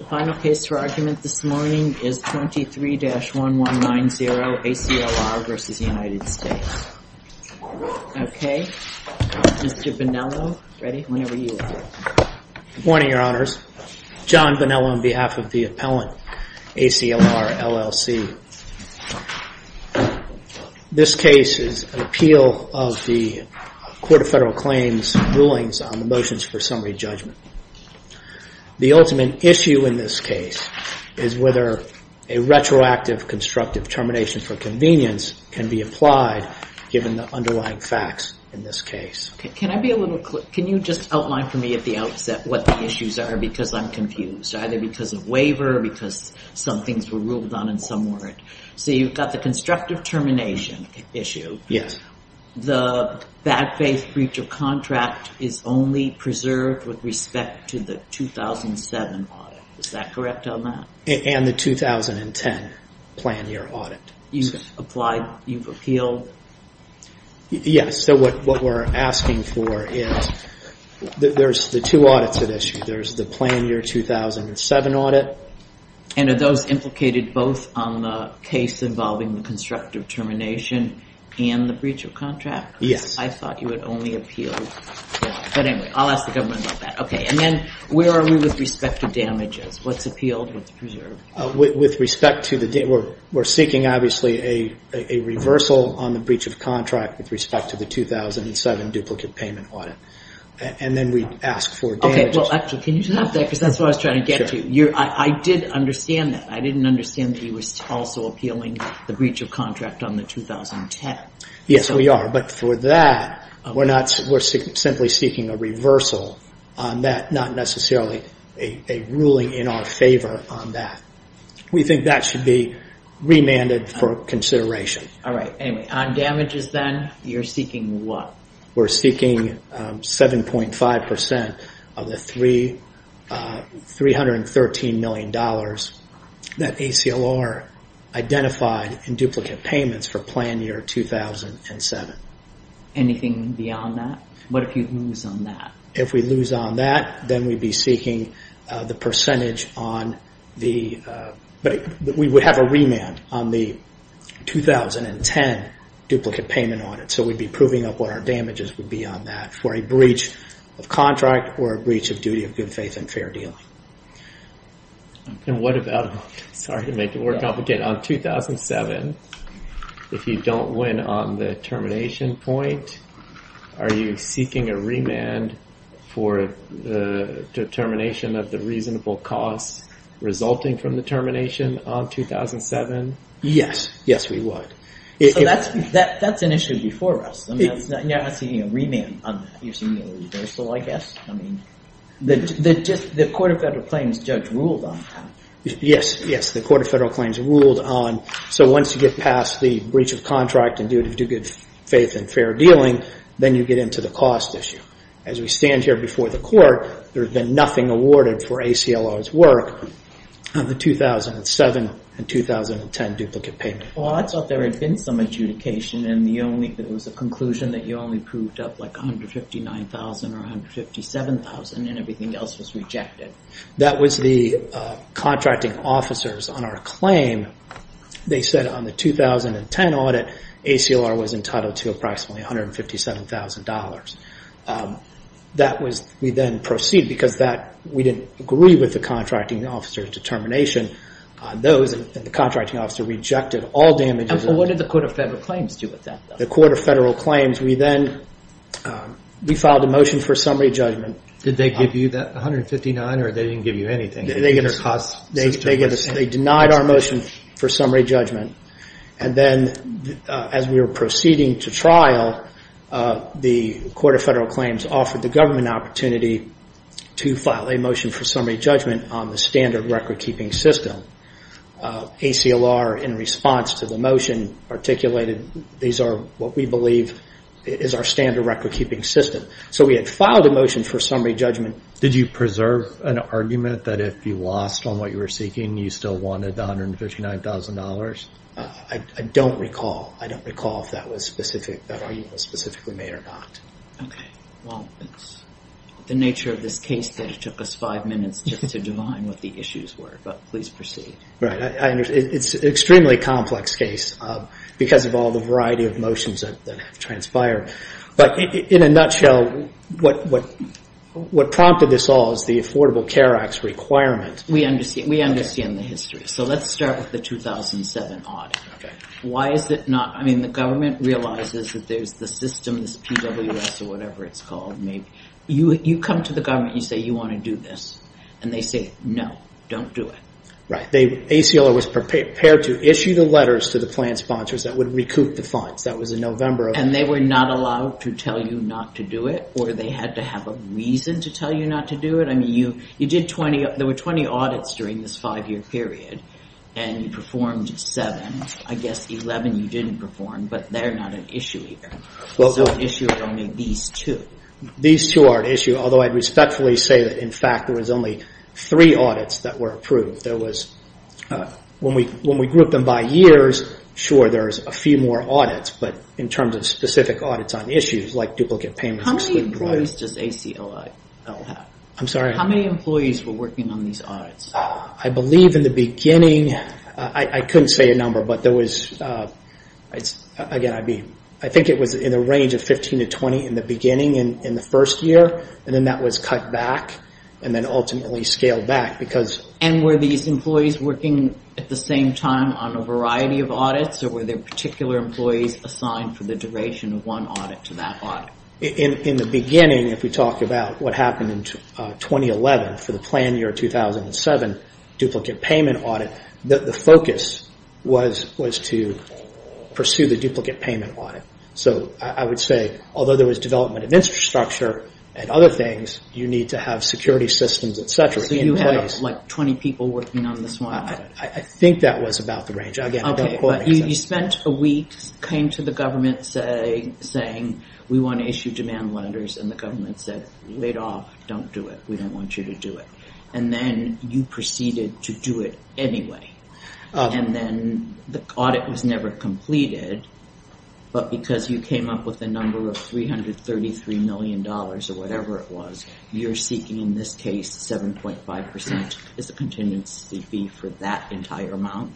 The final case for argument this morning is 23-1190, ACLR v. United States. Okay, Mr. Bonello. Ready? Whenever you are. Good morning, Your Honors. John Bonello on behalf of the appellant, ACLR, LLC. This case is an appeal of the Court of Federal Claims rulings on the motions for summary judgment. The ultimate issue in this case is whether a retroactive constructive termination for convenience can be applied given the underlying facts in this case. Can you just outline for me at the outset what the issues are because I'm confused. Either because of waiver or because some things were ruled on in some word. So you've got the constructive termination issue. Yes. The bad faith breach of contract is only preserved with respect to the 2007 audit. Is that correct on that? And the 2010 plan year audit. You've applied, you've appealed? Yes. So what we're asking for is, there's the two audits at issue. There's the plan year 2007 audit. And are those implicated both on the case involving the constructive termination and the breach of contract? Yes. I thought you had only appealed. But anyway, I'll ask the government about that. And then where are we with respect to damages? What's appealed? What's preserved? We're seeking obviously a reversal on the breach of contract with respect to the 2007 duplicate payment audit. And then we ask for damages. Can you stop there because that's what I was trying to get to. I did understand that. I didn't understand that you were also appealing the breach of contract on the 2010. Yes, we are. But for that, we're simply seeking a reversal on that. Not necessarily a ruling in our favor on that. We think that should be remanded for consideration. All right. Anyway, on damages then, you're seeking what? We're seeking 7.5% of the $313 million that ACLR identified in duplicate payments for plan year 2007. Anything beyond that? What if you lose on that? If we lose on that, then we'd be seeking the percentage on the... But we would have a remand on the 2010 duplicate payment audit. So we'd be proving up what our damages would be on that for a breach of contract or a breach of duty of good faith and fair deal. And what about... Sorry to make it more complicated. On 2007, if you don't win on the termination point, are you seeking a remand for the termination of the reasonable costs resulting from the termination on 2007? Yes. Yes, we would. So that's an issue before us. You're not seeking a remand on that. You're seeking a reversal, I guess. The Court of Federal Claims judge ruled on that. Yes. Yes. The Court of Federal Claims ruled on... So once you get past the breach of contract and duty of good faith and fair dealing, then you get into the cost issue. As we stand here before the Court, there's been nothing awarded for ACLR's work on the 2007 and 2010 duplicate payment. Well, I thought there had been some adjudication and it was a conclusion that you only proved up like $159,000 or $157,000 and everything else was rejected. That was the contracting officers on our claim. They said on the 2010 audit, ACLR was entitled to approximately $157,000. That was... We then proceed because we didn't agree with the contracting officer's determination. Those and the contracting officer rejected all damages. What did the Court of Federal Claims do with that? The Court of Federal Claims, we then, we filed a motion for summary judgment. Did they give you that $159,000 or they didn't give you anything? They denied our motion for summary judgment. And then as we were proceeding to trial, the Court of Federal Claims offered the government opportunity to file a motion for summary judgment on the standard record-keeping system. ACLR, in response to the motion, articulated these are what we believe is our standard record-keeping system. So we had filed a motion for summary judgment. Did you preserve an argument that if you lost on what you were seeking, you still wanted the $159,000? I don't recall. I don't recall if that argument was specifically made or not. Okay. Well, it's the nature of this case that it took us five minutes just to divine what the issues were. But please proceed. Right. It's an extremely complex case because of all the variety of motions that have transpired. But in a nutshell, what prompted this all is the Affordable Care Act's requirement. We understand the history. So let's start with the 2007 audit. Why is it not? I mean, the government realizes that there's the system, this PWS or whatever it's called. You come to the government. You say you want to do this. And they say, no, don't do it. Right. ACLR was prepared to issue the letters to the plan sponsors that would recoup the funds. That was in November. And they were not allowed to tell you not to do it or they had to have a reason to tell you not to do it? There were 20 audits during this five-year period, and you performed seven. I guess 11 you didn't perform, but they're not an issue either. So the issue is only these two. These two are an issue, although I'd respectfully say that, in fact, there was only three audits that were approved. When we grouped them by years, sure, there's a few more audits. But in terms of specific audits on issues like duplicate payments, it's three. How many employees does ACLR have? I'm sorry? How many employees were working on these audits? I believe in the beginning, I couldn't say a number, but there was, again, I think it was in the range of 15 to 20 in the beginning in the first year. And then that was cut back and then ultimately scaled back because And were these employees working at the same time on a variety of audits or were there particular employees assigned for the duration of one audit to that audit? In the beginning, if we talk about what happened in 2011 for the plan year 2007 duplicate payment audit, the focus was to pursue the duplicate payment audit. So I would say, although there was development of infrastructure and other things, you need to have security systems, et cetera, in place. So you had like 20 people working on this one audit? I think that was about the range. You spent a week, came to the government saying, we want to issue demand letters and the government said, wait off, don't do it. We don't want you to do it. And then you proceeded to do it anyway. And then the audit was never completed. But because you came up with a number of $333 million or whatever it was, you're seeking in this case 7.5% as a contingency fee for that entire amount?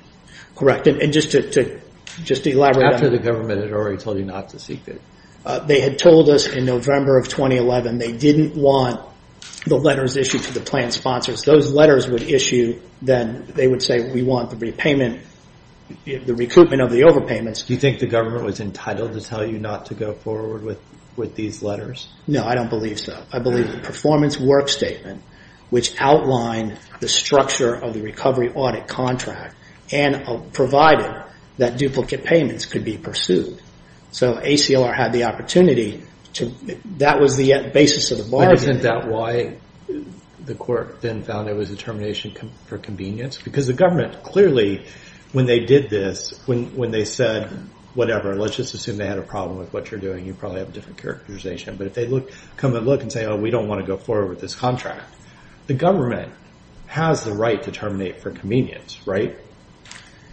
Correct. And just to elaborate on that. After the government had already told you not to seek it. They had told us in November of 2011 they didn't want the letters issued to the plan sponsors. Those letters would issue, then they would say we want the repayment, the recruitment of the overpayments. Do you think the government was entitled to tell you not to go forward with these letters? No, I don't believe so. I believe the performance work statement, which outlined the structure of the recovery audit contract and provided that duplicate payments could be pursued. So ACLR had the opportunity. That was the basis of the bargain. Isn't that why the court then found it was a termination for convenience? Because the government clearly, when they did this, when they said whatever, let's just assume they had a problem with what you're doing, you probably have a different characterization. But if they come and look and say we don't want to go forward with this contract, the government has the right to terminate for convenience, right?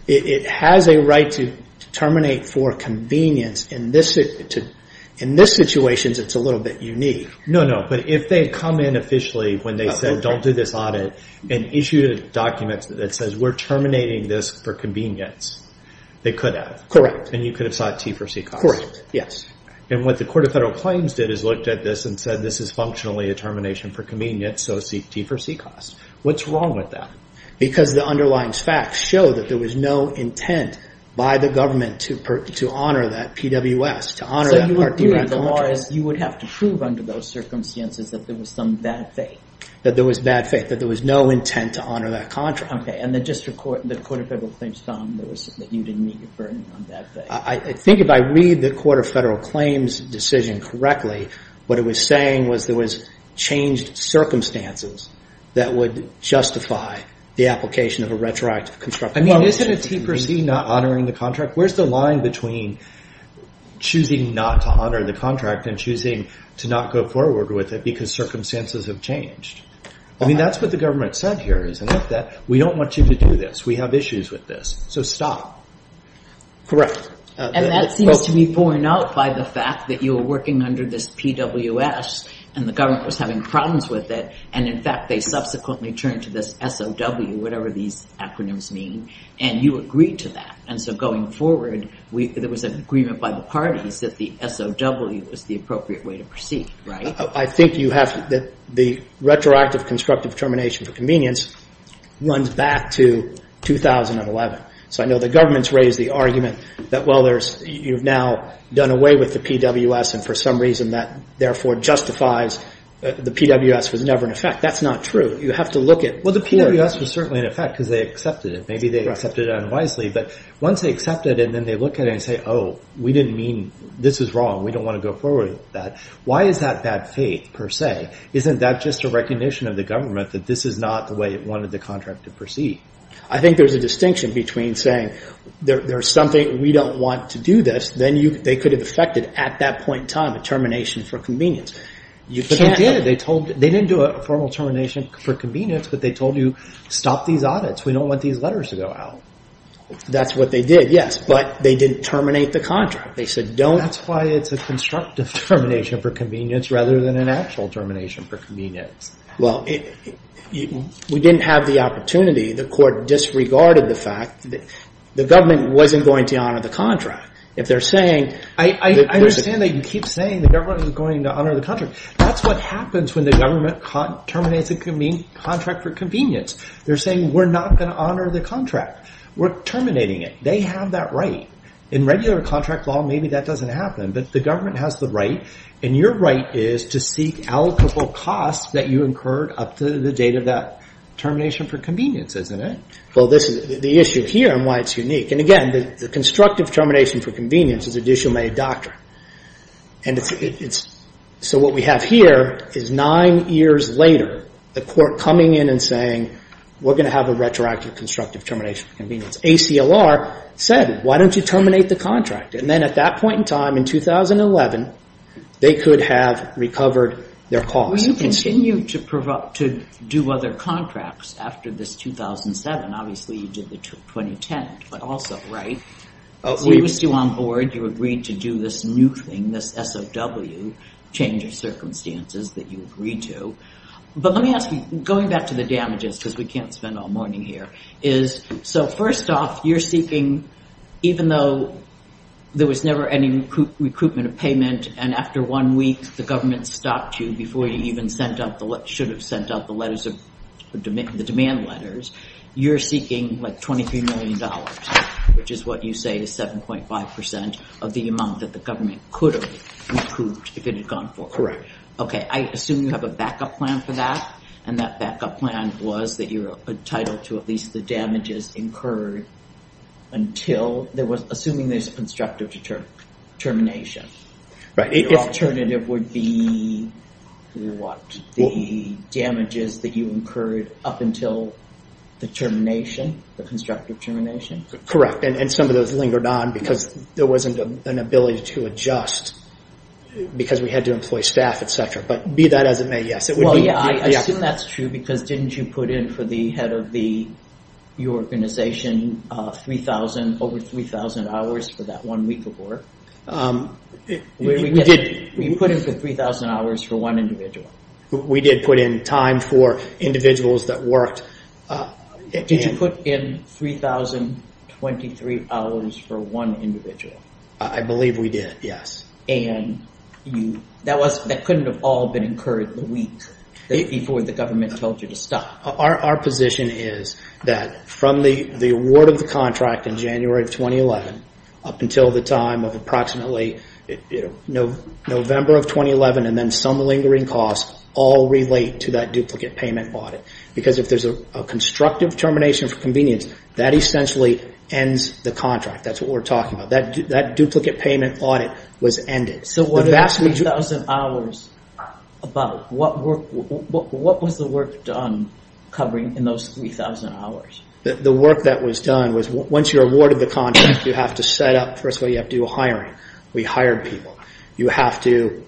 It has a right to terminate for convenience. In this situation, it's a little bit unique. No, no. But if they had come in officially when they said don't do this audit and issued a document that says we're terminating this for convenience, they could have. Correct. And you could have sought T for C costs. Correct, yes. And what the Court of Federal Claims did is looked at this and said this is functionally a termination for convenience, so T for C costs. What's wrong with that? Because the underlying facts show that there was no intent by the government to honor that PWS, to honor that Part D contract. So you would have to prove under those circumstances that there was some bad faith. That there was bad faith, that there was no intent to honor that contract. Okay, and the Court of Federal Claims found that you didn't meet your burden on bad faith. I think if I read the Court of Federal Claims decision correctly, what it was saying was there was changed circumstances that would justify the application of a retroactive construction policy. I mean, isn't a T for C not honoring the contract? Where's the line between choosing not to honor the contract and choosing to not go forward with it because circumstances have changed? I mean, that's what the government said here is enough that we don't want you to do this. We have issues with this, so stop. Correct. And that seems to be borne out by the fact that you were working under this PWS and the government was having problems with it, and in fact they subsequently turned to this SOW, whatever these acronyms mean, and you agreed to that. And so going forward, there was an agreement by the parties that the SOW was the appropriate way to proceed, right? I think that the retroactive constructive termination for convenience runs back to 2011. So I know the government's raised the argument that, well, you've now done away with the PWS and for some reason that therefore justifies the PWS was never in effect. That's not true. You have to look at course. Well, the PWS was certainly in effect because they accepted it. Maybe they accepted it unwisely, but once they accept it and then they look at it and say, oh, we didn't mean this is wrong. We don't want to go forward with that. Why is that bad faith per se? Isn't that just a recognition of the government that this is not the way it wanted the contract to proceed? I think there's a distinction between saying there's something we don't want to do this. Then they could have effected at that point in time a termination for convenience. They did. They didn't do a formal termination for convenience, but they told you stop these audits. We don't want these letters to go out. That's what they did, yes, but they didn't terminate the contract. They said don't. That's why it's a constructive termination for convenience rather than an actual termination for convenience. Well, we didn't have the opportunity. The court disregarded the fact that the government wasn't going to honor the contract. If they're saying- I understand that you keep saying the government is going to honor the contract. That's what happens when the government terminates a contract for convenience. They're saying we're not going to honor the contract. We're terminating it. They have that right. In regular contract law, maybe that doesn't happen, but the government has the right, and your right is to seek allocable costs that you incurred up to the date of that termination for convenience, isn't it? Well, this is the issue here and why it's unique. And, again, the constructive termination for convenience is an issue made doctrine. So what we have here is nine years later the court coming in and saying we're going to have a retroactive constructive termination for convenience. ACLR said why don't you terminate the contract? And then at that point in time, in 2011, they could have recovered their costs. Will you continue to do other contracts after this 2007? Obviously, you did the 2010, but also, right? We were still on board. You agreed to do this new thing, this SOW, change of circumstances, that you agreed to. But let me ask you, going back to the damages because we can't spend all morning here, so first off, you're seeking, even though there was never any recoupment of payment, and after one week the government stopped you before you even should have sent out the demand letters, you're seeking like $23 million, which is what you say is 7.5% of the amount that the government could have recouped if it had gone forward. Correct. Okay, I assume you have a backup plan for that, and that backup plan was that you're entitled to at least the damages incurred until, assuming there's a constructive termination. Your alternative would be what? The damages that you incurred up until the termination, the constructive termination? Correct, and some of those lingered on because there wasn't an ability to adjust because we had to employ staff, etc., but be that as it may, yes. I assume that's true because didn't you put in for the head of your organization over 3,000 hours for that one week of work? We did. You put in for 3,000 hours for one individual? We did put in time for individuals that worked. Did you put in 3,023 hours for one individual? I believe we did, yes. That couldn't have all been incurred the week before the government told you to stop? Our position is that from the award of the contract in January of 2011 up until the time of approximately November of 2011, and then some lingering costs all relate to that duplicate payment audit because if there's a constructive termination for convenience, that essentially ends the contract. That's what we're talking about. That duplicate payment audit was ended. What was the work done covering in those 3,000 hours? The work that was done was once you're awarded the contract, you have to set up. First of all, you have to do hiring. We hired people. You have to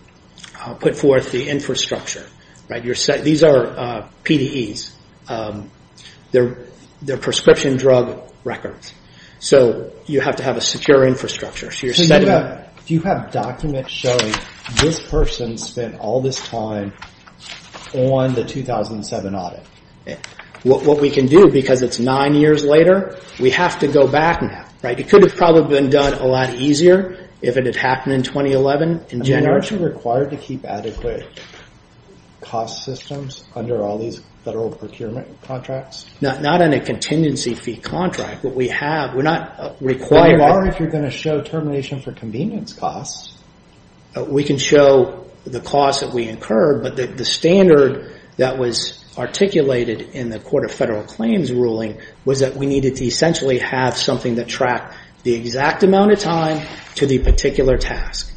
put forth the infrastructure. These are PDEs. They're prescription drug records. You have to have a secure infrastructure. Do you have documents showing this person spent all this time on the 2007 audit? What we can do because it's nine years later, we have to go back now. It could have probably been done a lot easier if it had happened in 2011. Aren't you required to keep adequate cost systems under all these federal procurement contracts? Not in a contingency fee contract, but we have. We're not required. But you are if you're going to show termination for convenience costs. We can show the cost that we incurred, but the standard that was articulated in the Court of Federal Claims ruling was that we needed to essentially have something that tracked the exact amount of time to the particular task.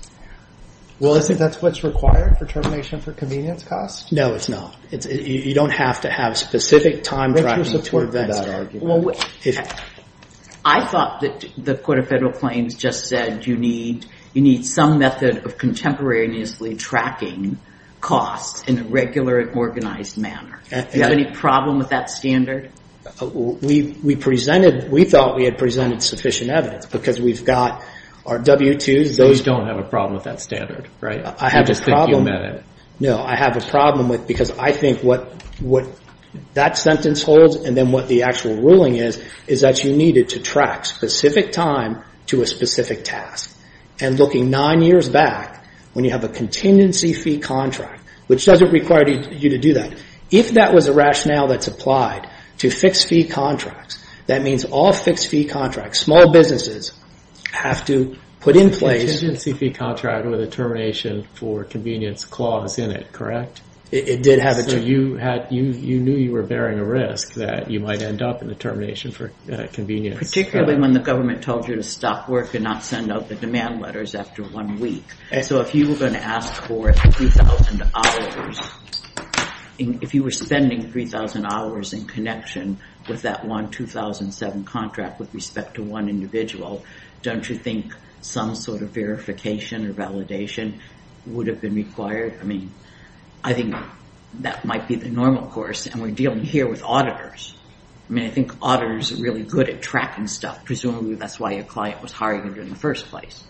Well, is that what's required for termination for convenience costs? No, it's not. You don't have to have specific time tracking for that argument. I thought that the Court of Federal Claims just said you need some method of contemporaneously tracking costs in a regular, organized manner. Do you have any problem with that standard? We thought we had presented sufficient evidence because we've got our W-2s. Those don't have a problem with that standard, right? I just think you meant it. No, I have a problem with it because I think what that sentence holds and then what the actual ruling is, is that you needed to track specific time to a specific task. And looking nine years back, when you have a contingency fee contract, which doesn't require you to do that, if that was a rationale that's applied to fixed-fee contracts, that means all fixed-fee contracts, small businesses have to put in place... It did have a... So you knew you were bearing a risk that you might end up in the termination for convenience. Particularly when the government told you to stop work and not send out the demand letters after one week. So if you were going to ask for 3,000 hours, if you were spending 3,000 hours in connection with that one 2007 contract with respect to one individual, don't you think some sort of verification or validation would have been required? I mean, I think that might be the normal course and we're dealing here with auditors. I mean, I think auditors are really good at tracking stuff. Presumably that's why your client was hiring you in the first place.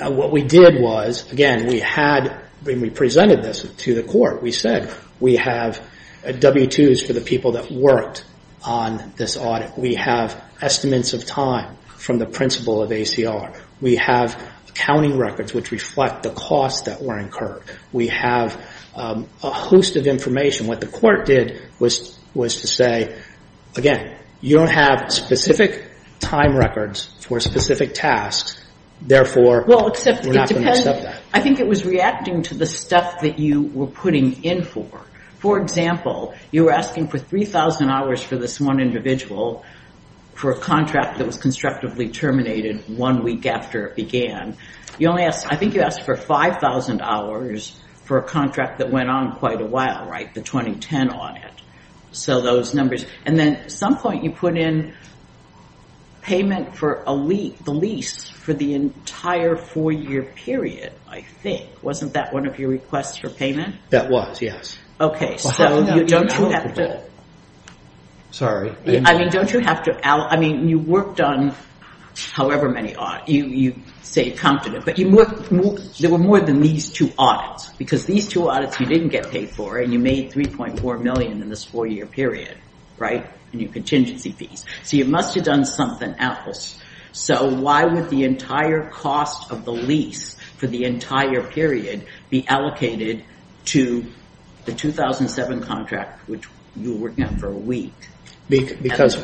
What we did was, again, we had... When we presented this to the court, we said, we have W-2s for the people that worked on this audit. We have estimates of time from the principle of ACR. We have accounting records which reflect the costs that were incurred. We have a host of information. What the court did was to say, again, you don't have specific time records for specific tasks. Therefore, we're not going to accept that. I think it was reacting to the stuff that you were putting in for. For example, you were asking for 3,000 hours for this one individual for a contract that was constructively terminated one week after it began. I think you asked for 5,000 hours for a contract that went on quite a while, right? The 2010 audit. So those numbers. And then at some point you put in payment for the lease for the entire four-year period, I think. Wasn't that one of your requests for payment? That was, yes. Okay, so don't you have to- Sorry. I mean, don't you have to- I mean, you worked on however many audits. You stayed confident, but there were more than these two audits because these two audits you didn't get paid for, and you made $3.4 million in this four-year period, right? And your contingency fees. So you must have done something else. So why would the entire cost of the lease for the entire period be allocated to the 2007 contract, which you were working on for a week? Because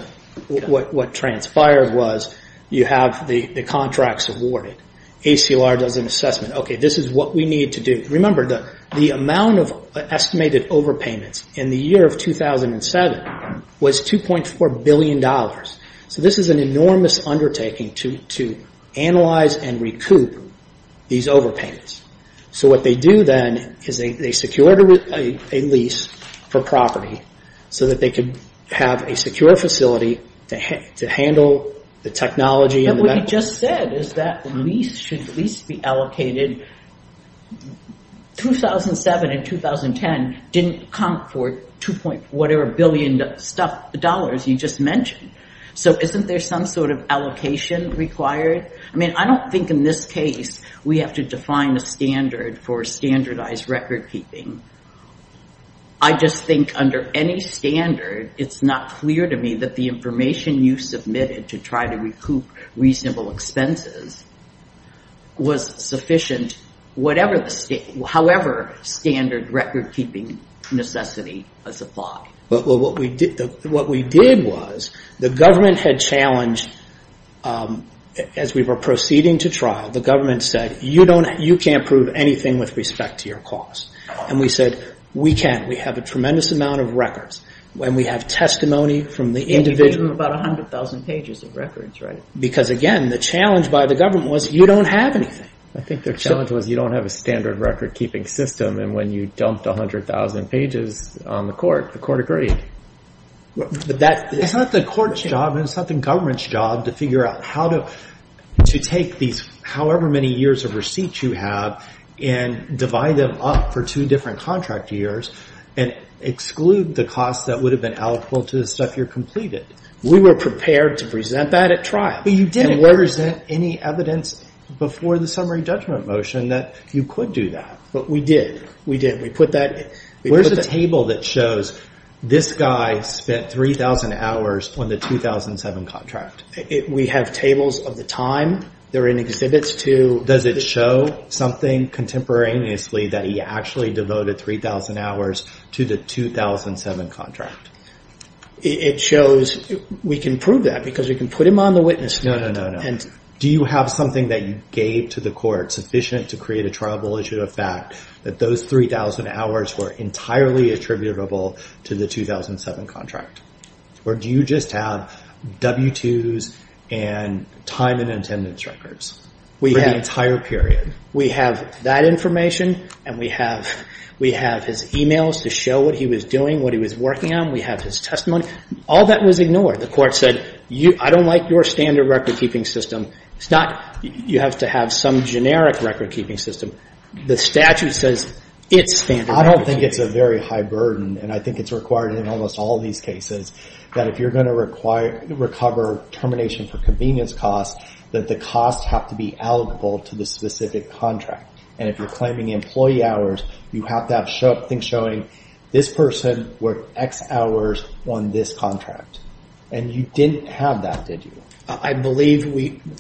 what transpired was you have the contracts awarded. ACLR does an assessment. Okay, this is what we need to do. Remember, the amount of estimated overpayments in the year of 2007 was $2.4 billion. So this is an enormous undertaking to analyze and recoup these overpayments. So what they do then is they secure a lease for property so that they could have a secure facility to handle the technology and the- What you just said is that the lease should at least be allocated. 2007 and 2010 didn't count for whatever billion dollars you just mentioned. So isn't there some sort of allocation required? I mean, I don't think in this case we have to define a standard for standardized recordkeeping. I just think under any standard, it's not clear to me that the information you submitted to try to recoup reasonable expenses was sufficient, however standard recordkeeping necessity was applied. What we did was the government had challenged, as we were proceeding to trial, the government said, you can't prove anything with respect to your cause. And we said, we can. We have a tremendous amount of records. And we have testimony from the individual- And you do have about 100,000 pages of records, right? Because again, the challenge by the government was you don't have anything. I think their challenge was you don't have a standard recordkeeping system. And when you dumped 100,000 pages on the court, the court agreed. It's not the court's job and it's not the government's job to figure out how to take these however many years of receipts you have and divide them up for two different contract years and exclude the costs that would have been allocable to the stuff you've completed. We were prepared to present that at trial. But you didn't. And where is there any evidence before the summary judgment motion that you could do that? But we did. We did. We put that- Where's the table that shows this guy spent 3,000 hours on the 2007 contract? We have tables of the time. They're in exhibits to- Does it show something contemporaneously that he actually devoted 3,000 hours to the 2007 contract? It shows- We can prove that because we can put him on the witness stand. No, no, no. Do you have something that you gave to the court sufficient to create a triable issue of fact that those 3,000 hours were entirely attributable to the 2007 contract? Or do you just have W-2s and time and attendance records for the entire period? We have that information and we have his emails to show what he was doing, what he was working on. We have his testimony. All that was ignored. The court said, I don't like your standard record-keeping system. You have to have some generic record-keeping system. The statute says it's standard record-keeping. I don't think it's a very high burden. And I think it's required in almost all these cases that if you're going to recover termination for convenience costs that the costs have to be allocable to the specific contract. And if you're claiming employee hours, you have to have things showing this person worked X hours on this contract. And you didn't have that, did you? I believe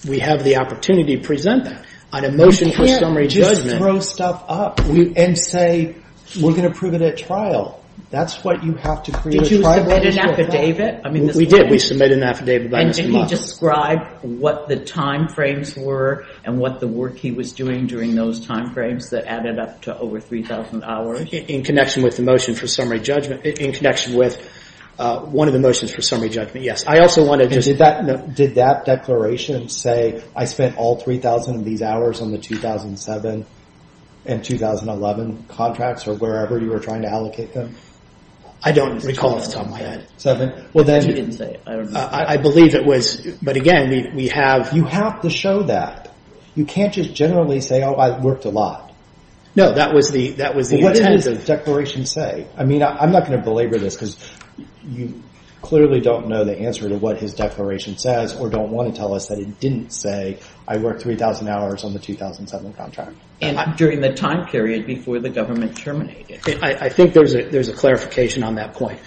we have the opportunity to present that on a motion for summary judgment. We can't just throw stuff up and say, we're going to prove it at trial. That's what you have to create a triable issue of fact. Did you submit an affidavit? We did. We submitted an affidavit by this week. And did he describe what the timeframes were and what the work he was doing during those timeframes that added up to over 3,000 hours? In connection with the motion for summary judgment. In connection with one of the motions for summary judgment, yes. Did that declaration say, I spent all 3,000 of these hours on the 2007 and 2011 contracts or wherever you were trying to allocate them? I don't recall. I believe it was. But again, we have... You have to show that. You can't just generally say, I worked a lot. No, that was the intent. What did the declaration say? I'm not going to belabor this because you clearly don't know the answer to what his declaration says or don't want to tell us that it didn't say, I worked 3,000 hours on the 2007 contract. And during the time period before the government terminated. I think there's a clarification on that point.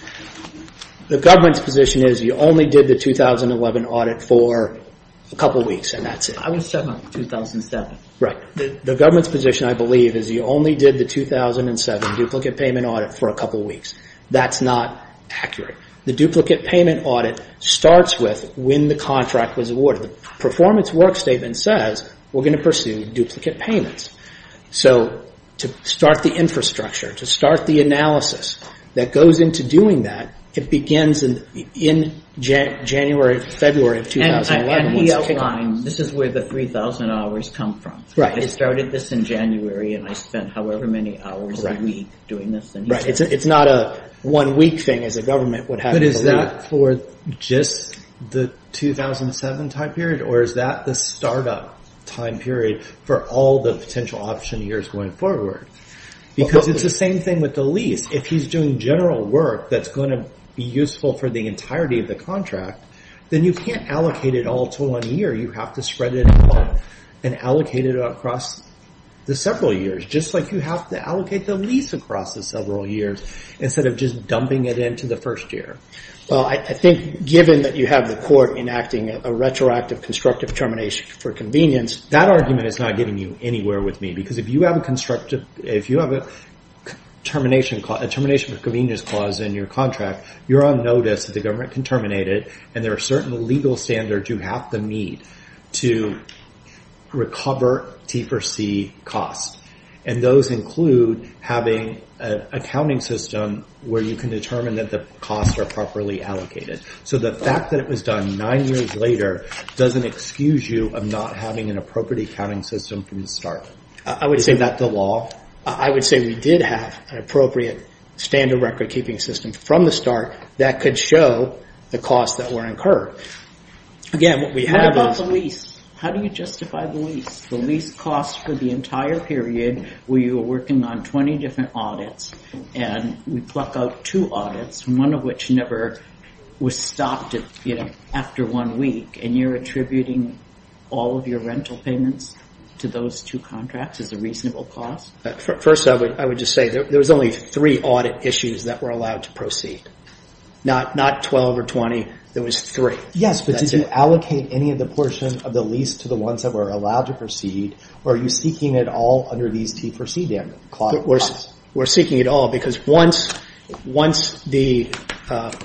The government's position is, you only did the 2011 audit for a couple of weeks and that's it. I was talking about 2007. Right. The government's position, I believe, is you only did the 2007 duplicate payment audit for a couple of weeks. That's not accurate. The duplicate payment audit starts with when the contract was awarded. The performance work statement says, we're going to pursue duplicate payments. So to start the infrastructure, to start the analysis that goes into doing that, it begins in January, February of 2011. This is where the 3,000 hours come from. I started this in January and I spent however many hours a week doing this. It's not a one week thing as a government. But is that for just the 2007 time period or is that the startup time period for all the potential option years going forward? Because it's the same thing with the lease. If he's doing general work that's going to be useful for the entirety of the contract, then you can't allocate it all to one year. You have to spread it out and allocate it across the several years, just like you have to allocate the lease across the several years instead of just dumping it into the first year. I think given that you have the court enacting a retroactive constructive termination for convenience, that argument is not getting you anywhere with me because if you have a termination for convenience clause in your contract, you're on notice that the government can terminate it and there are certain legal standards you have to meet to recover T4C costs. Those include having an accounting system where you can determine that the costs are properly allocated. The fact that it was done nine years later doesn't excuse you of not having an appropriate accounting system from the start. Is that the law? I would say we did have an appropriate standard record keeping system from the start that could show the costs that were incurred. How about the lease? How do you justify the lease? The lease costs for the entire period where you were working on 20 different audits and we pluck out two audits, one of which never was stopped after one week, and you're attributing all of your rental payments to those two contracts as a reasonable cost? First, I would just say there was only three audit issues that were allowed to proceed. Not 12 or 20, there was three. Yes, but did you allocate any of the portion of the lease to the ones that were allowed to proceed or are you seeking it all under these T4C clauses? We're seeking it all because once the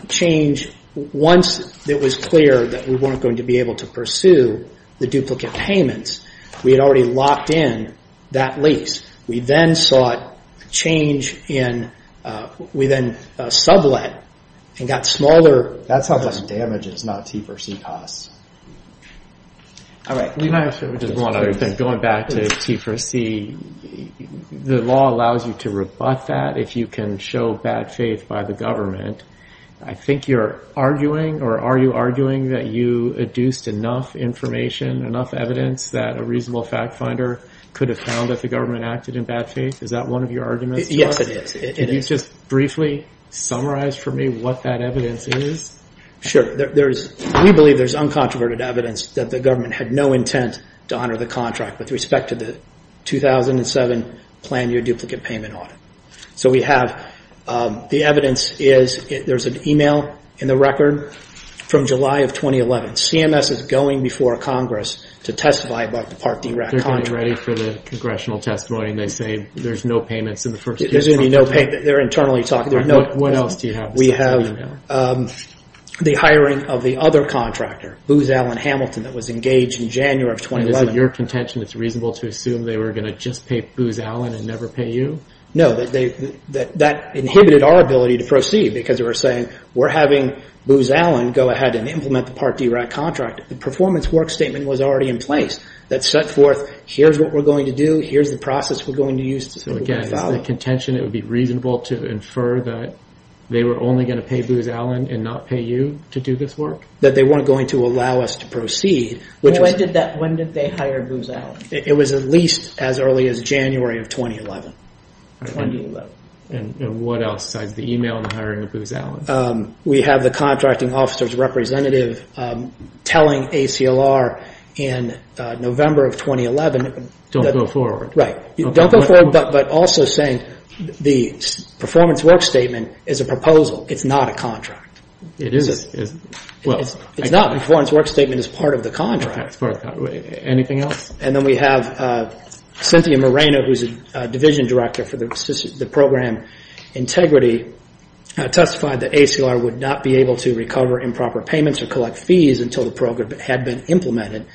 change, once it was clear that we weren't going to be able to pursue the duplicate payments, we had already locked in that lease. We then sought change in... We then sublet and got smaller... That sounds like damages, not T4C costs. All right. Going back to T4C, the law allows you to rebut that if you can show bad faith by the government. I think you're arguing or are you arguing that you adduced enough information, enough evidence that a reasonable fact finder could have found that the government acted in bad faith? Is that one of your arguments? Yes, it is. Can you just briefly summarize for me what that evidence is? Sure. We believe there's uncontroverted evidence that the government had no intent to honor the contract with respect to the 2007 Plan Your Duplicate Payment audit. So we have... The evidence is... There's an email in the record from July of 2011. CMS is going before Congress to testify about the Part D RAC contract. They're getting ready for the congressional testimony and they say there's no payments in the first... There's going to be no payments. They're internally talking. What else do you have? We have the hiring of the other contractor, Booz Allen Hamilton, that was engaged in January of 2011. Is it your contention it's reasonable to assume they were going to just pay Booz Allen and never pay you? No, that inhibited our ability to proceed because they were saying, we're having Booz Allen go ahead and implement the Part D RAC contract. The performance work statement was already in place that set forth, here's what we're going to do, here's the process we're going to use... So again, is the contention it would be reasonable to infer that they were only going to pay Booz Allen and not pay you to do this work? That they weren't going to allow us to proceed. When did they hire Booz Allen? It was at least as early as January of 2011. And what else besides the email and the hiring of Booz Allen? We have the contracting officer's representative telling ACLR in November of 2011... Don't go forward. Right. Don't go forward, but also saying the performance work statement is a proposal, it's not a contract. It is. It's not. The performance work statement is part of the contract. Anything else? And then we have Cynthia Moreno, who's a division director for the program integrity, testified that ACLR would not be able to recover improper payments or collect fees until the program had been implemented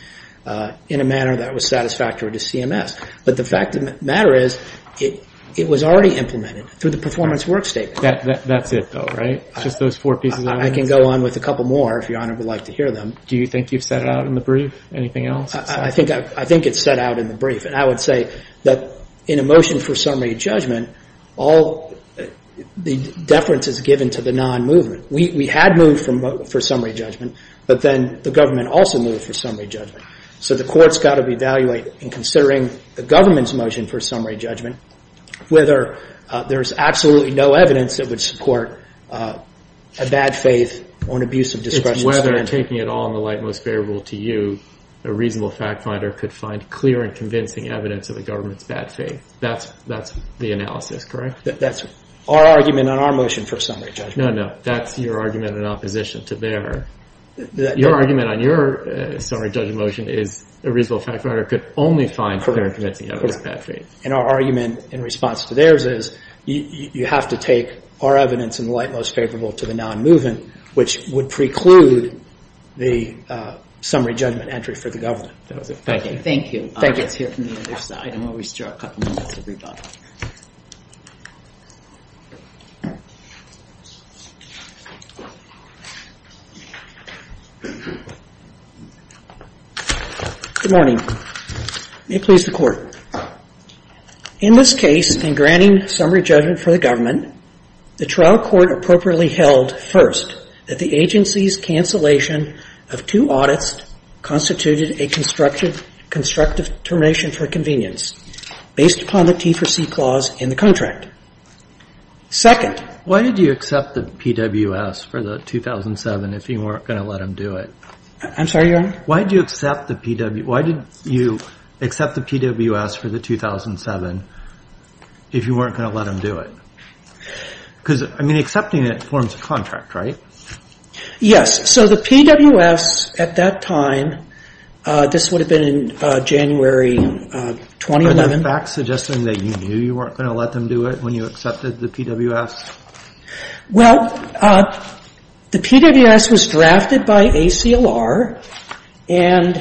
in a manner that was satisfactory to CMS. But the fact of the matter is, it was already implemented through the performance work statement. That's it, though, right? Just those four pieces of evidence? I can go on with a couple more, if Your Honor would like to hear them. Do you think you've set it out in the brief? Anything else? I think it's set out in the brief. And I would say that in a motion for summary judgment, all the deference is given to the non-movement. We had moved for summary judgment, but then the government also moved for summary judgment. So the court's got to evaluate, in considering the government's motion for summary judgment, whether there's absolutely no evidence that would support a bad faith or an abuse of discretion. It's whether, taking it all in the light and most bearable to you, a reasonable fact finder could find clear and convincing evidence of the government's bad faith. That's the analysis, correct? That's our argument on our motion for summary judgment. No, no. That's your argument in opposition to their. Your argument on your summary judgment motion is a reasonable fact finder could only find clear and convincing evidence of bad faith. And our argument in response to theirs is you have to take our evidence in the light most favorable to the non-movement, which would preclude the summary judgment entry for the government. That was it. Thank you. Thank you. Good morning. May it please the Court. In this case, in granting summary judgment for the government, the trial court appropriately held first that the agency's cancellation The trial court held that the agency's cancellation of two audits based upon the T4C clause in the contract. Second. Why did you accept the PWS for the 2007 if you weren't going to let them do it? I'm sorry, Your Honor? Why did you accept the PWS for the 2007 if you weren't going to let them do it? Because, I mean, accepting it forms a contract, right? Yes. So the PWS at that time, this would have been in January 2011. Are there facts suggesting that you knew you weren't going to let them do it when you accepted the PWS? Well, the PWS was drafted by ACLR. And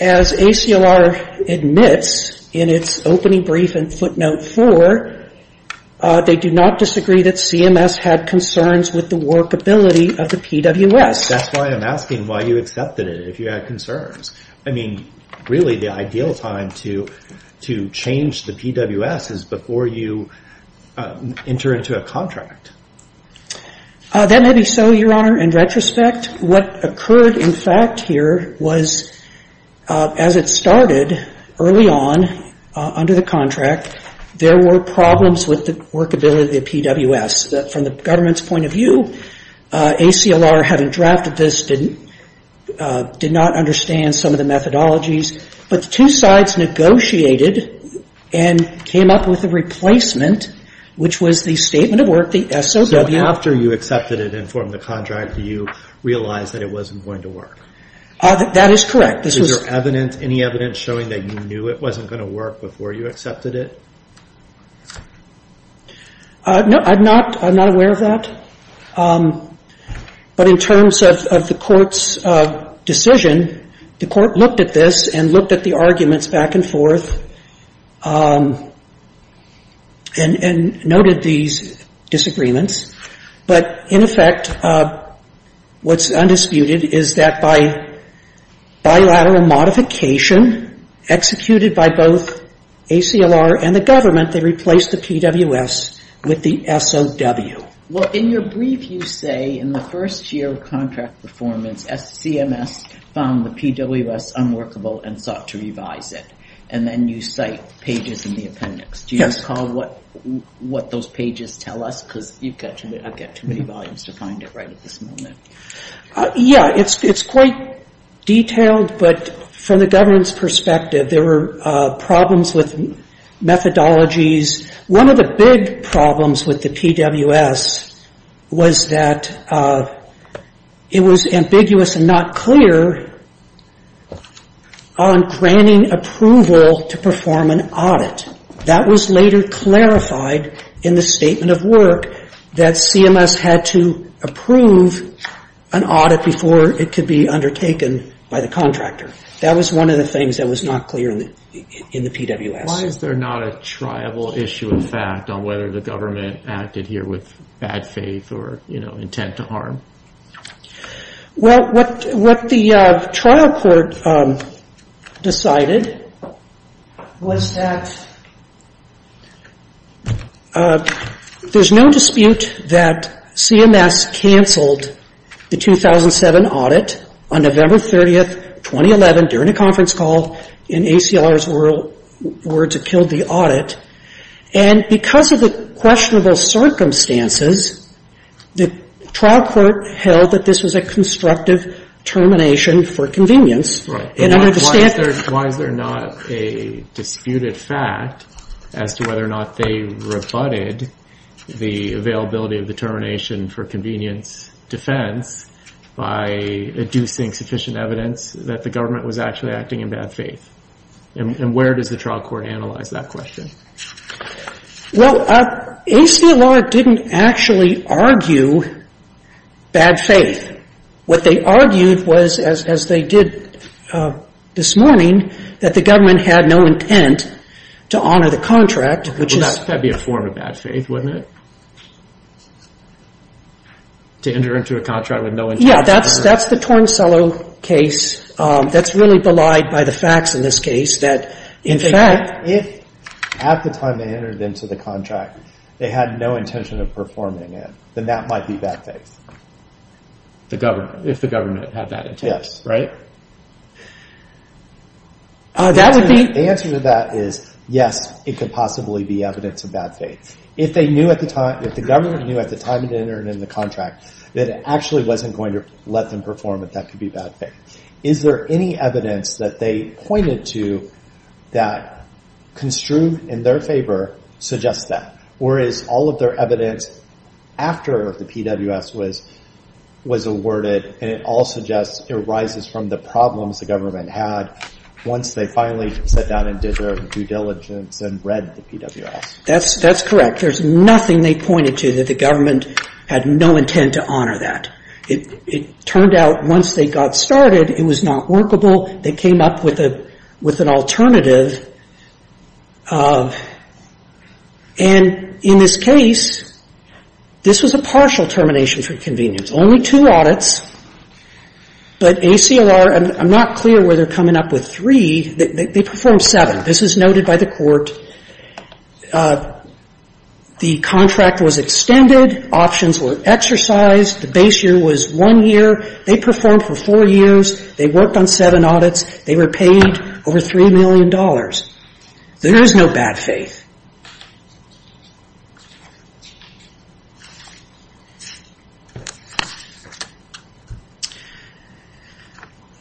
as ACLR admits in its opening brief in footnote four, they do not disagree that CMS had concerns with the workability of the PWS. That's why I'm asking why you accepted it, if you had concerns. I mean, really, the ideal time to change the PWS is before you enter into a contract. That may be so, Your Honor. In retrospect, what occurred in fact here was, as it started early on under the contract, there were problems with the workability of the PWS. From the government's point of view, ACLR, having drafted this, did not understand some of the methodologies. But the two sides negotiated and came up with a replacement, which was the statement of work, the SOW. So after you accepted it and formed the contract, you realized that it wasn't going to work? That is correct. Is there evidence, any evidence showing that you knew it wasn't going to work before you accepted it? No, I'm not aware of that. But in terms of the Court's decision, the Court looked at this and looked at the arguments back and forth and noted these disagreements. But in effect, what's undisputed is that by bilateral modification, executed by both ACLR and the government, they replaced the PWS with the SOW. Well, in your brief, you say in the first year of contract performance, CMS found the PWS unworkable and sought to revise it. And then you cite pages in the appendix. Do you recall what those pages tell us? Because I've got too many volumes to find it right at this moment. Yeah, it's quite detailed. But from the government's perspective, there were problems with methodologies. One of the big problems with the PWS was that it was ambiguous and not clear on granting approval to perform an audit. That was later clarified in the statement of work that CMS had to approve an audit before it could be undertaken by the contractor. That was one of the things that was not clear in the PWS. Why is there not a triable issue of fact on whether the government acted here with bad faith or intent to harm? Well, what the trial court decided was that there's no dispute that CMS canceled the 2007 audit on November 30, 2011, during a conference call, and ACLR's words have killed the audit. And because of the questionable circumstances, the trial court held that this was a constructive termination for convenience. Why is there not a disputed fact as to whether or not they rebutted the availability of the termination for convenience defense by inducing sufficient evidence that the government was actually acting in bad faith? And where does the trial court analyze that question? Well, ACLR didn't actually argue bad faith. What they argued was, as they did this morning, that the government had no intent to honor the contract, which is... Well, that would be a form of bad faith, wouldn't it? To enter into a contract with no intent... Yeah, that's the Torn Cellar case. That's really belied by the facts in this case that, in fact... In fact, if at the time they entered into the contract, they had no intention of performing it, then that might be bad faith. The government, if the government had that intent, right? Yes. That would be... The answer to that is, yes, it could possibly be evidence of bad faith. If they knew at the time, if the government knew at the time it entered into the contract that it actually wasn't going to let them perform it, that could be bad faith. Is there any evidence that they pointed to that construed in their favor suggests that? Or is all of their evidence after the PWS was awarded, and it all suggests it arises from the problems the government had once they finally sat down and did their due diligence and read the PWS? That's correct. There's nothing they pointed to that the government had no intent to honor that. It turned out once they got started, it was not workable. They came up with an alternative. And in this case, this was a partial termination for convenience. Only two audits, but ACLR... I'm not clear where they're coming up with three. They performed seven. This is noted by the court. The contract was extended. Options were exercised. The base year was one year. They performed for four years. They worked on seven audits. They were paid over $3 million. There is no bad faith.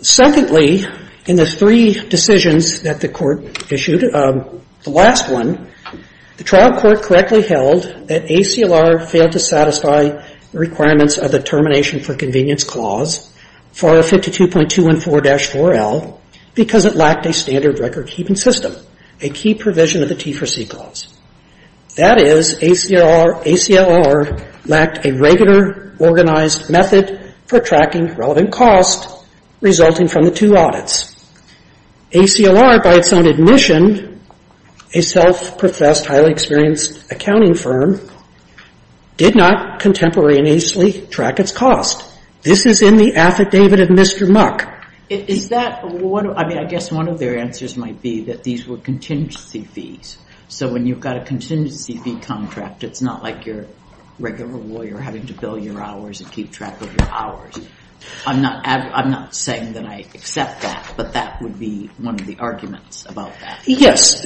Secondly, in the three decisions that the court issued, the last one, the trial court correctly held that ACLR failed to satisfy the requirements of the termination for convenience clause for 52.214-4L because it lacked a standard record keeping system, That is, ACLR lacked a regular organized method for tracking relevant cost resulting from the two audits. ACLR, by its own admission, a self-professed, highly experienced accounting firm, did not contemporaneously track its cost. This is in the affidavit of Mr. Muck. Is that... I mean, I guess one of their answers might be that these were contingency fees. So when you've got a contingency fee contract, it's not like your regular lawyer having to bill your hours and keep track of your hours. I'm not saying that I accept that, but that would be one of the arguments about that. Yes.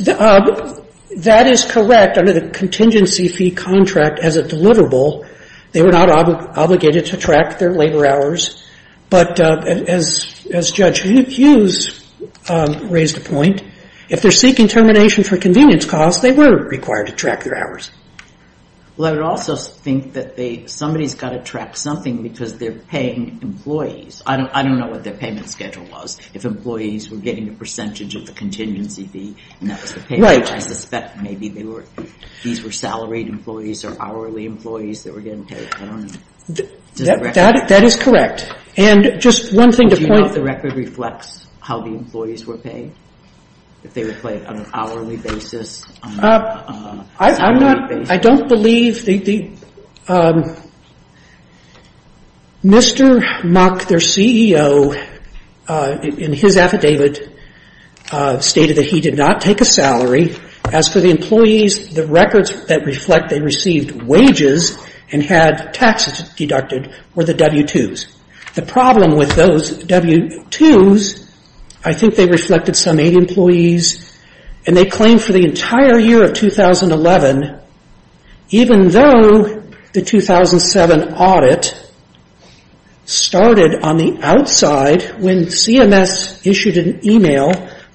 That is correct. Under the contingency fee contract as a deliverable, they were not obligated to track their labor hours. But as Judge Hughes raised the point, if they're seeking termination for convenience costs, they were required to track their hours. Well, I would also think that somebody's got to track something because they're paying employees. I don't know what their payment schedule was, if employees were getting a percentage of the contingency fee, and that was the payment. Right. I suspect maybe these were salaried employees or hourly employees that were getting paid. I don't know. That is correct. And just one thing to point... If they were paid on an hourly basis... I don't believe... Mr. Muck, their CEO, in his affidavit, stated that he did not take a salary. As for the employees, the records that reflect they received wages and had taxes deducted were the W-2s. The problem with those W-2s, I think they reflected some aid employees, and they claimed for the entire year of 2011, even though the 2007 audit started on the outside when CMS issued an e-mail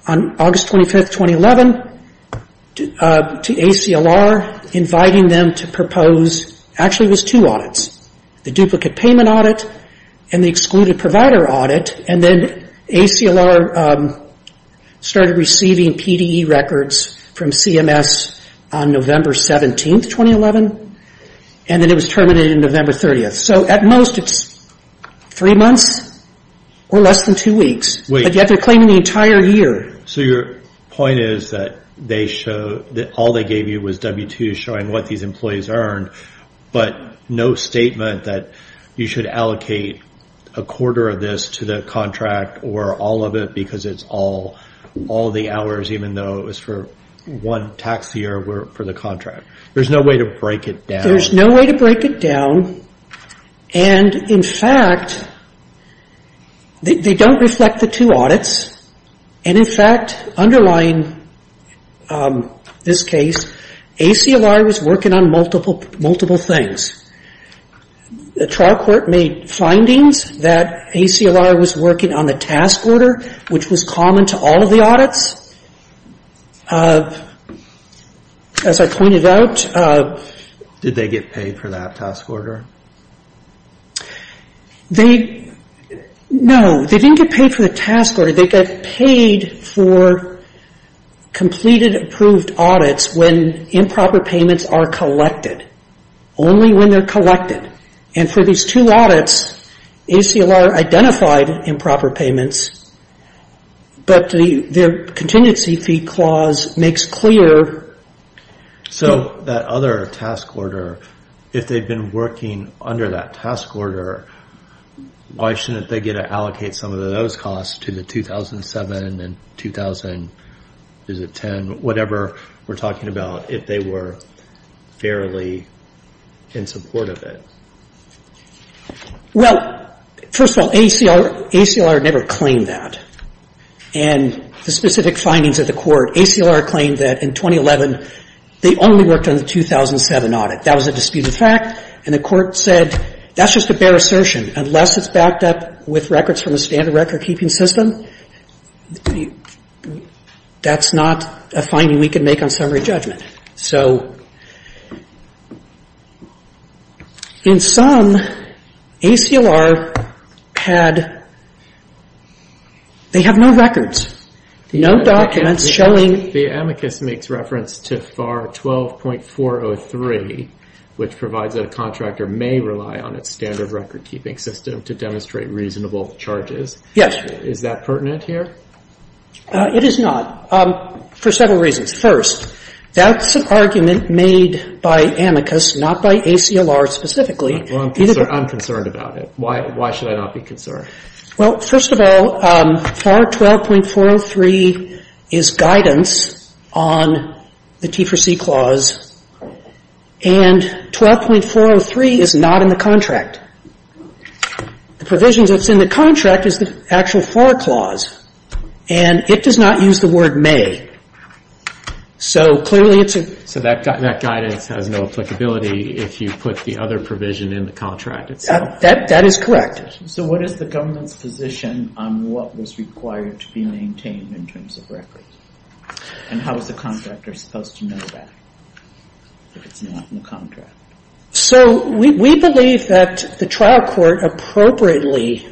on August 25th, 2011, to ACLR inviting them to propose... Actually, it was two audits. The duplicate payment audit and the excluded provider audit, and then ACLR started receiving PDE records from CMS on November 17th, 2011, and then it was terminated on November 30th. So at most it's three months or less than two weeks, but yet they're claiming the entire year. So your point is that all they gave you was W-2s showing what these employees earned, but no statement that you should allocate a quarter of this to the contract or all of it because it's all the hours, even though it was for one tax year for the contract. There's no way to break it down. There's no way to break it down, and, in fact, they don't reflect the two audits, and, in fact, underlying this case, ACLR was working on multiple things. The trial court made findings that ACLR was working on the task order, which was common to all of the audits. As I pointed out... Did they get paid for that task order? They... No, they didn't get paid for the task order. They got paid for completed approved audits when improper payments are collected, only when they're collected. And for these two audits, ACLR identified improper payments, but their contingency fee clause makes clear... So that other task order, if they've been working under that task order, why shouldn't they get to allocate some of those costs to the 2007 and 2000... Is it 10? Whatever we're talking about, if they were fairly in support of it. Well, first of all, ACLR never claimed that. And the specific findings of the court, ACLR claimed that, in 2011, they only worked on the 2007 audit. That was a disputed fact, and the court said, that's just a bare assertion. Unless it's backed up with records from a standard record-keeping system, that's not a finding we can make on summary judgment. So... In sum, ACLR had... They have no records. No documents showing... The amicus makes reference to FAR 12.403, which provides that a contractor may rely on its standard record-keeping system to demonstrate reasonable charges. Yes. Is that pertinent here? It is not, for several reasons. First, that's an argument made by amicus, not by ACLR specifically. Well, I'm concerned about it. Why should I not be concerned? Well, first of all, FAR 12.403 is guidance on the T4C clause, and 12.403 is not in the contract. The provisions that's in the contract is the actual FAR clause, and it does not use the word may. So clearly it's a... So that guidance has no applicability if you put the other provision in the contract itself? That is correct. So what is the government's position on what was required to be maintained in terms of records? And how is the contractor supposed to know that if it's not in the contract? So we believe that the trial court appropriately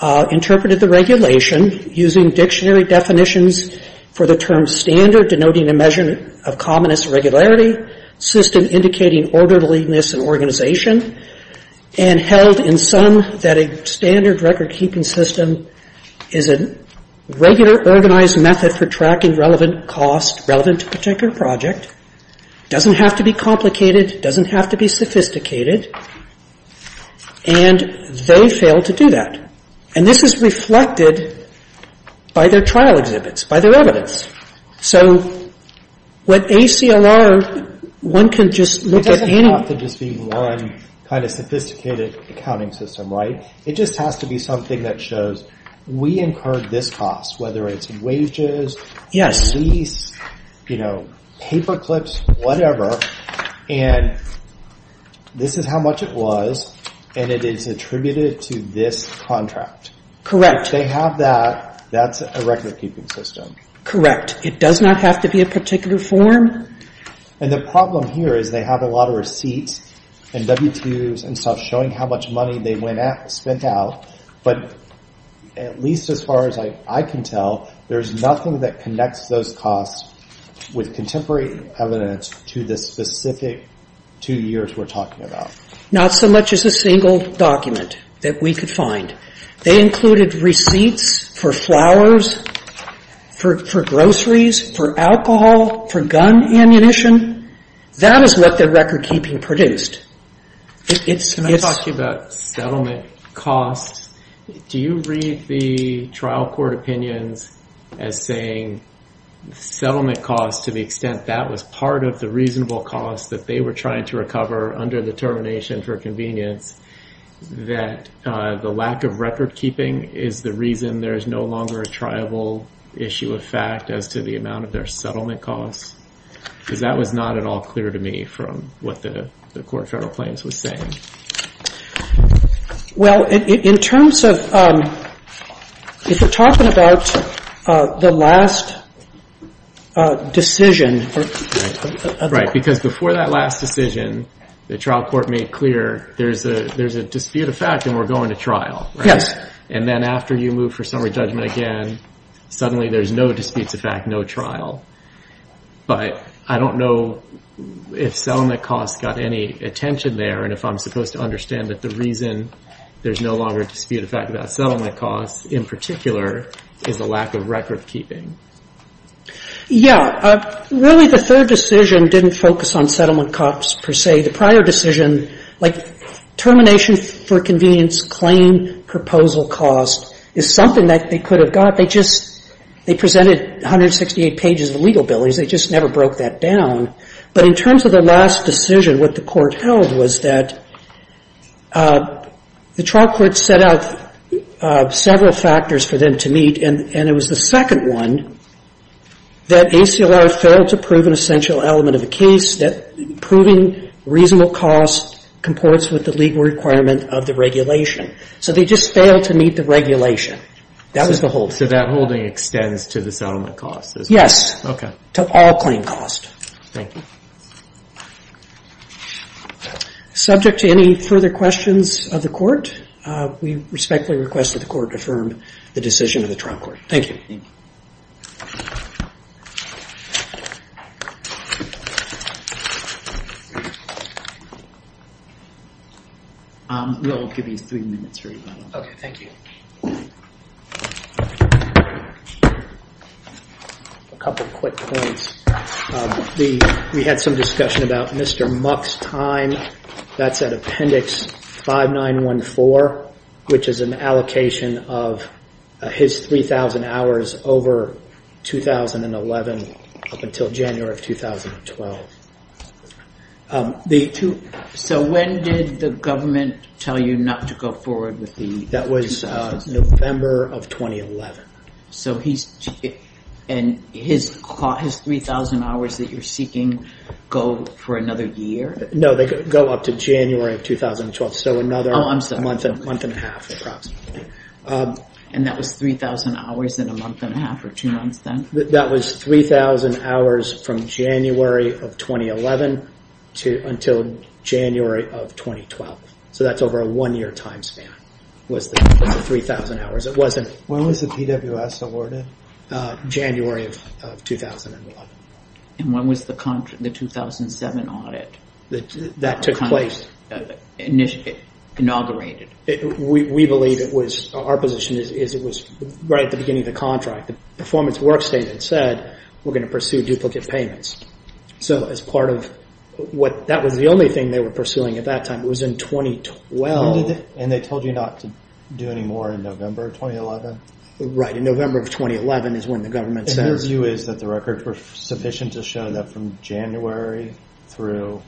interpreted the regulation using dictionary definitions for the term standard, denoting a measure of commonest regularity, system indicating orderliness and organization, and held in sum that a standard record-keeping system is a regular, organized method for tracking relevant costs, relevant to a particular project, doesn't have to be complicated, doesn't have to be sophisticated, and they failed to do that. And this is reflected by their trial exhibits, by their evidence. So with ACLR, one can just look at any... It doesn't have to just be one kind of sophisticated accounting system, right? It just has to be something that shows we incurred this cost, whether it's wages, lease, paper clips, whatever, and this is how much it was, and it is attributed to this contract. Correct. If they have that, that's a record-keeping system. Correct. It does not have to be a particular form. And the problem here is they have a lot of receipts and W-2s and stuff showing how much money they spent out, but at least as far as I can tell, there's nothing that connects those costs with contemporary evidence to the specific two years we're talking about. Not so much as a single document that we could find. They included receipts for flowers, for groceries, for alcohol, for gun ammunition. That is what their record-keeping produced. Can I talk to you about settlement costs? Do you read the trial court opinions as saying settlement costs to the extent that was part of the reasonable cost that they were trying to recover under the termination for convenience, that the lack of record-keeping is the reason there is no longer a triable issue of fact as to the amount of their settlement costs? Because that was not at all clear to me from what the Court of Federal Claims was saying. Well, in terms of... If we're talking about the last decision... Right. Because before that last decision, the trial court made clear there's a dispute of fact and we're going to trial. And then after you move for summary judgment again, suddenly there's no disputes of fact, no trial. But I don't know if settlement costs got any attention there and if I'm supposed to understand that the reason there's no longer a dispute of fact about settlement costs in particular is the lack of record-keeping. Yeah. Really, the third decision didn't focus on settlement costs per se. The prior decision, like termination for convenience claim proposal cost is something that they could have got. They just... They presented 168 pages of legal bill. They just never broke that down. But in terms of the last decision, what the court held was that the trial court set out several factors for them to meet and it was the second one that ACLR failed to prove an essential element of the case, that proving reasonable costs comports with the legal requirement of the regulation. So they just failed to meet the regulation. That was the whole thing. So that holding extends to the settlement costs? Yes. Okay. To all claim costs. Thank you. Subject to any further questions of the court, we respectfully request that the court affirm the decision of the trial court. Thank you. Thank you. We'll give you three minutes. Okay, thank you. A couple of quick points. We had some discussion about Mr. Muck's time. That's at Appendix 5914, which is an allocation of his 3,000 hours over 2011 up until January of 2012. So when did the government tell you not to go forward with the... That was November of 2011. So he's... And his 3,000 hours that you're seeking go for another year? No, they go up to January of 2012, so another month and a half approximately. And that was 3,000 hours in a month and a half or two months then? That was 3,000 hours from January of 2011 until January of 2012. So that's over a one-year time span was the 3,000 hours. When was the PWS awarded? January of 2011. And when was the 2007 audit... That took place. ...inaugurated? We believe it was... Our position is it was right at the beginning of the contract. The performance work statement said we're going to pursue duplicate payments. So as part of what... That was the only thing they were pursuing at that time. It was in 2012. When did they... And they told you not to do any more in November of 2011? Right, in November of 2011 is when the government says... And their view is that the records were sufficient to show that from January through...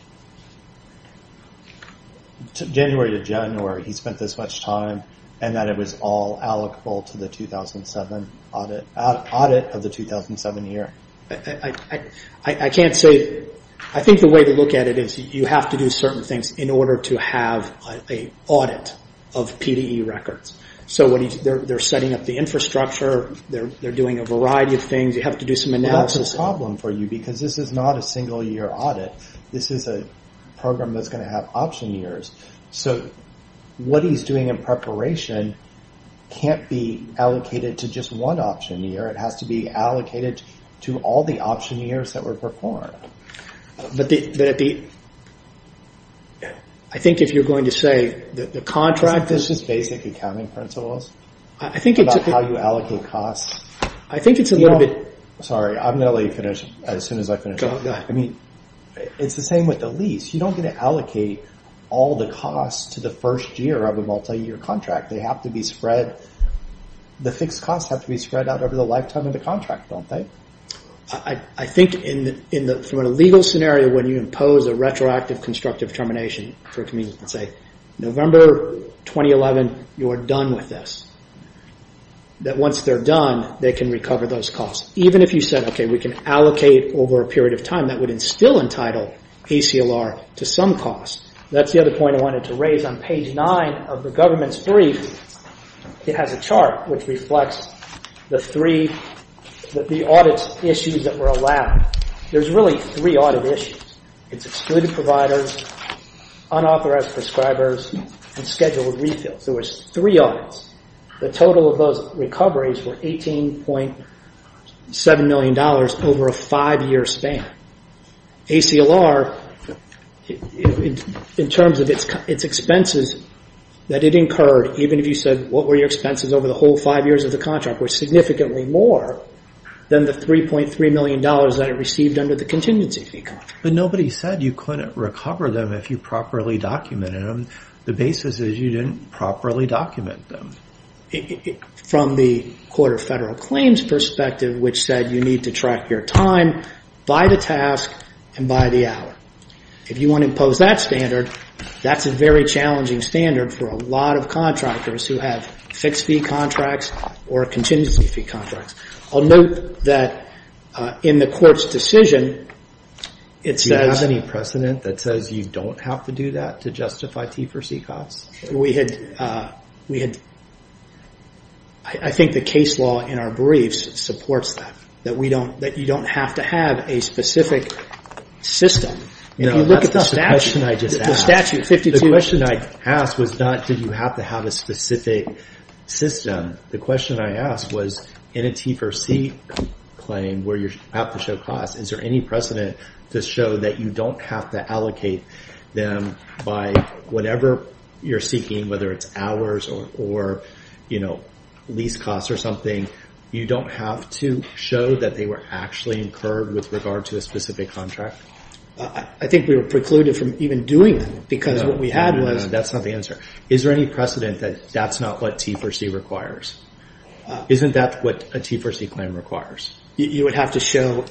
January to January he spent this much time and that it was all allocable to the 2007 audit... audit of the 2007 year. I can't say... I think the way to look at it is you have to do certain things in order to have an audit of PDE records. So they're setting up the infrastructure. They're doing a variety of things. You have to do some analysis. Well, that's a problem for you because this is not a single-year audit. This is a program that's going to have option years. So what he's doing in preparation can't be allocated to just one option year. It has to be allocated to all the option years that were performed. But the... I think if you're going to say the contract... This is basic accounting principles about how you allocate costs. I think it's a little bit... Sorry, I'm going to let you finish as soon as I finish. I mean, it's the same with the lease. You don't get to allocate all the costs to the first year of a multi-year contract. They have to be spread... The fixed costs have to be spread out over the lifetime of the contract, don't they? I think from a legal scenario when you impose a retroactive constructive termination for a community and say, November 2011, you are done with this, that once they're done, they can recover those costs. Even if you said, okay, we can allocate over a period of time, that would instill in title ACLR to some cost. That's the other point I wanted to raise. On page 9 of the government's brief, it has a chart which reflects the three... the audit issues that were allowed. There's really three audit issues. It's excluded providers, unauthorized prescribers, and scheduled refills. There was three audits. The total of those recoveries were $18.7 million over a five-year span. ACLR, in terms of its expenses that it incurred, even if you said, what were your expenses over the whole five years of the contract, were significantly more than the $3.3 million that it received under the contingency fee contract. But nobody said you couldn't recover them if you properly documented them. The basis is you didn't properly document them. From the Court of Federal Claims' perspective, which said you need to track your time by the task and by the hour. If you want to impose that standard, that's a very challenging standard for a lot of contractors who have fixed-fee contracts or contingency-fee contracts. I'll note that in the Court's decision, it says... Do you have any precedent that says you don't have to do that to justify T4C costs? We had... I think the case law in our briefs supports that, that you don't have to have a specific system. No, that's not the question I just asked. The statute 52... The question I asked was not did you have to have a specific system. The question I asked was in a T4C claim where you have to show costs, is there any precedent to show that you don't have to allocate them by whatever you're seeking, whether it's hours or lease costs or something? You don't have to show that they were actually incurred with regard to a specific contract? I think we were precluded from even doing that because what we had was... No, that's not the answer. Is there any precedent that that's not what T4C requires? Isn't that what a T4C claim requires? You would have to show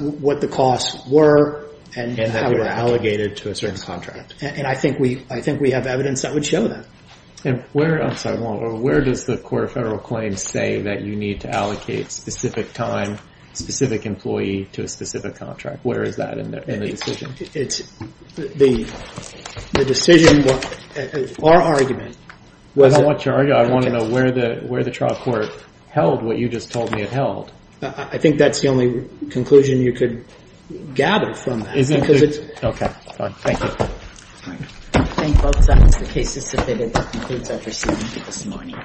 what the costs were and how they were allocated to a certain contract. I think we have evidence that would show that. Where does the Court of Federal Claims say that you need to allocate specific time, specific employee to a specific contract? Where is that in the decision? It's the decision or argument. I don't want your argument. I want to know where the trial court held what you just told me it held. I think that's the only conclusion you could gather from that. Isn't it? Okay, fine. Thank you. I thank both sides. The case is submitted. That concludes our proceedings this morning.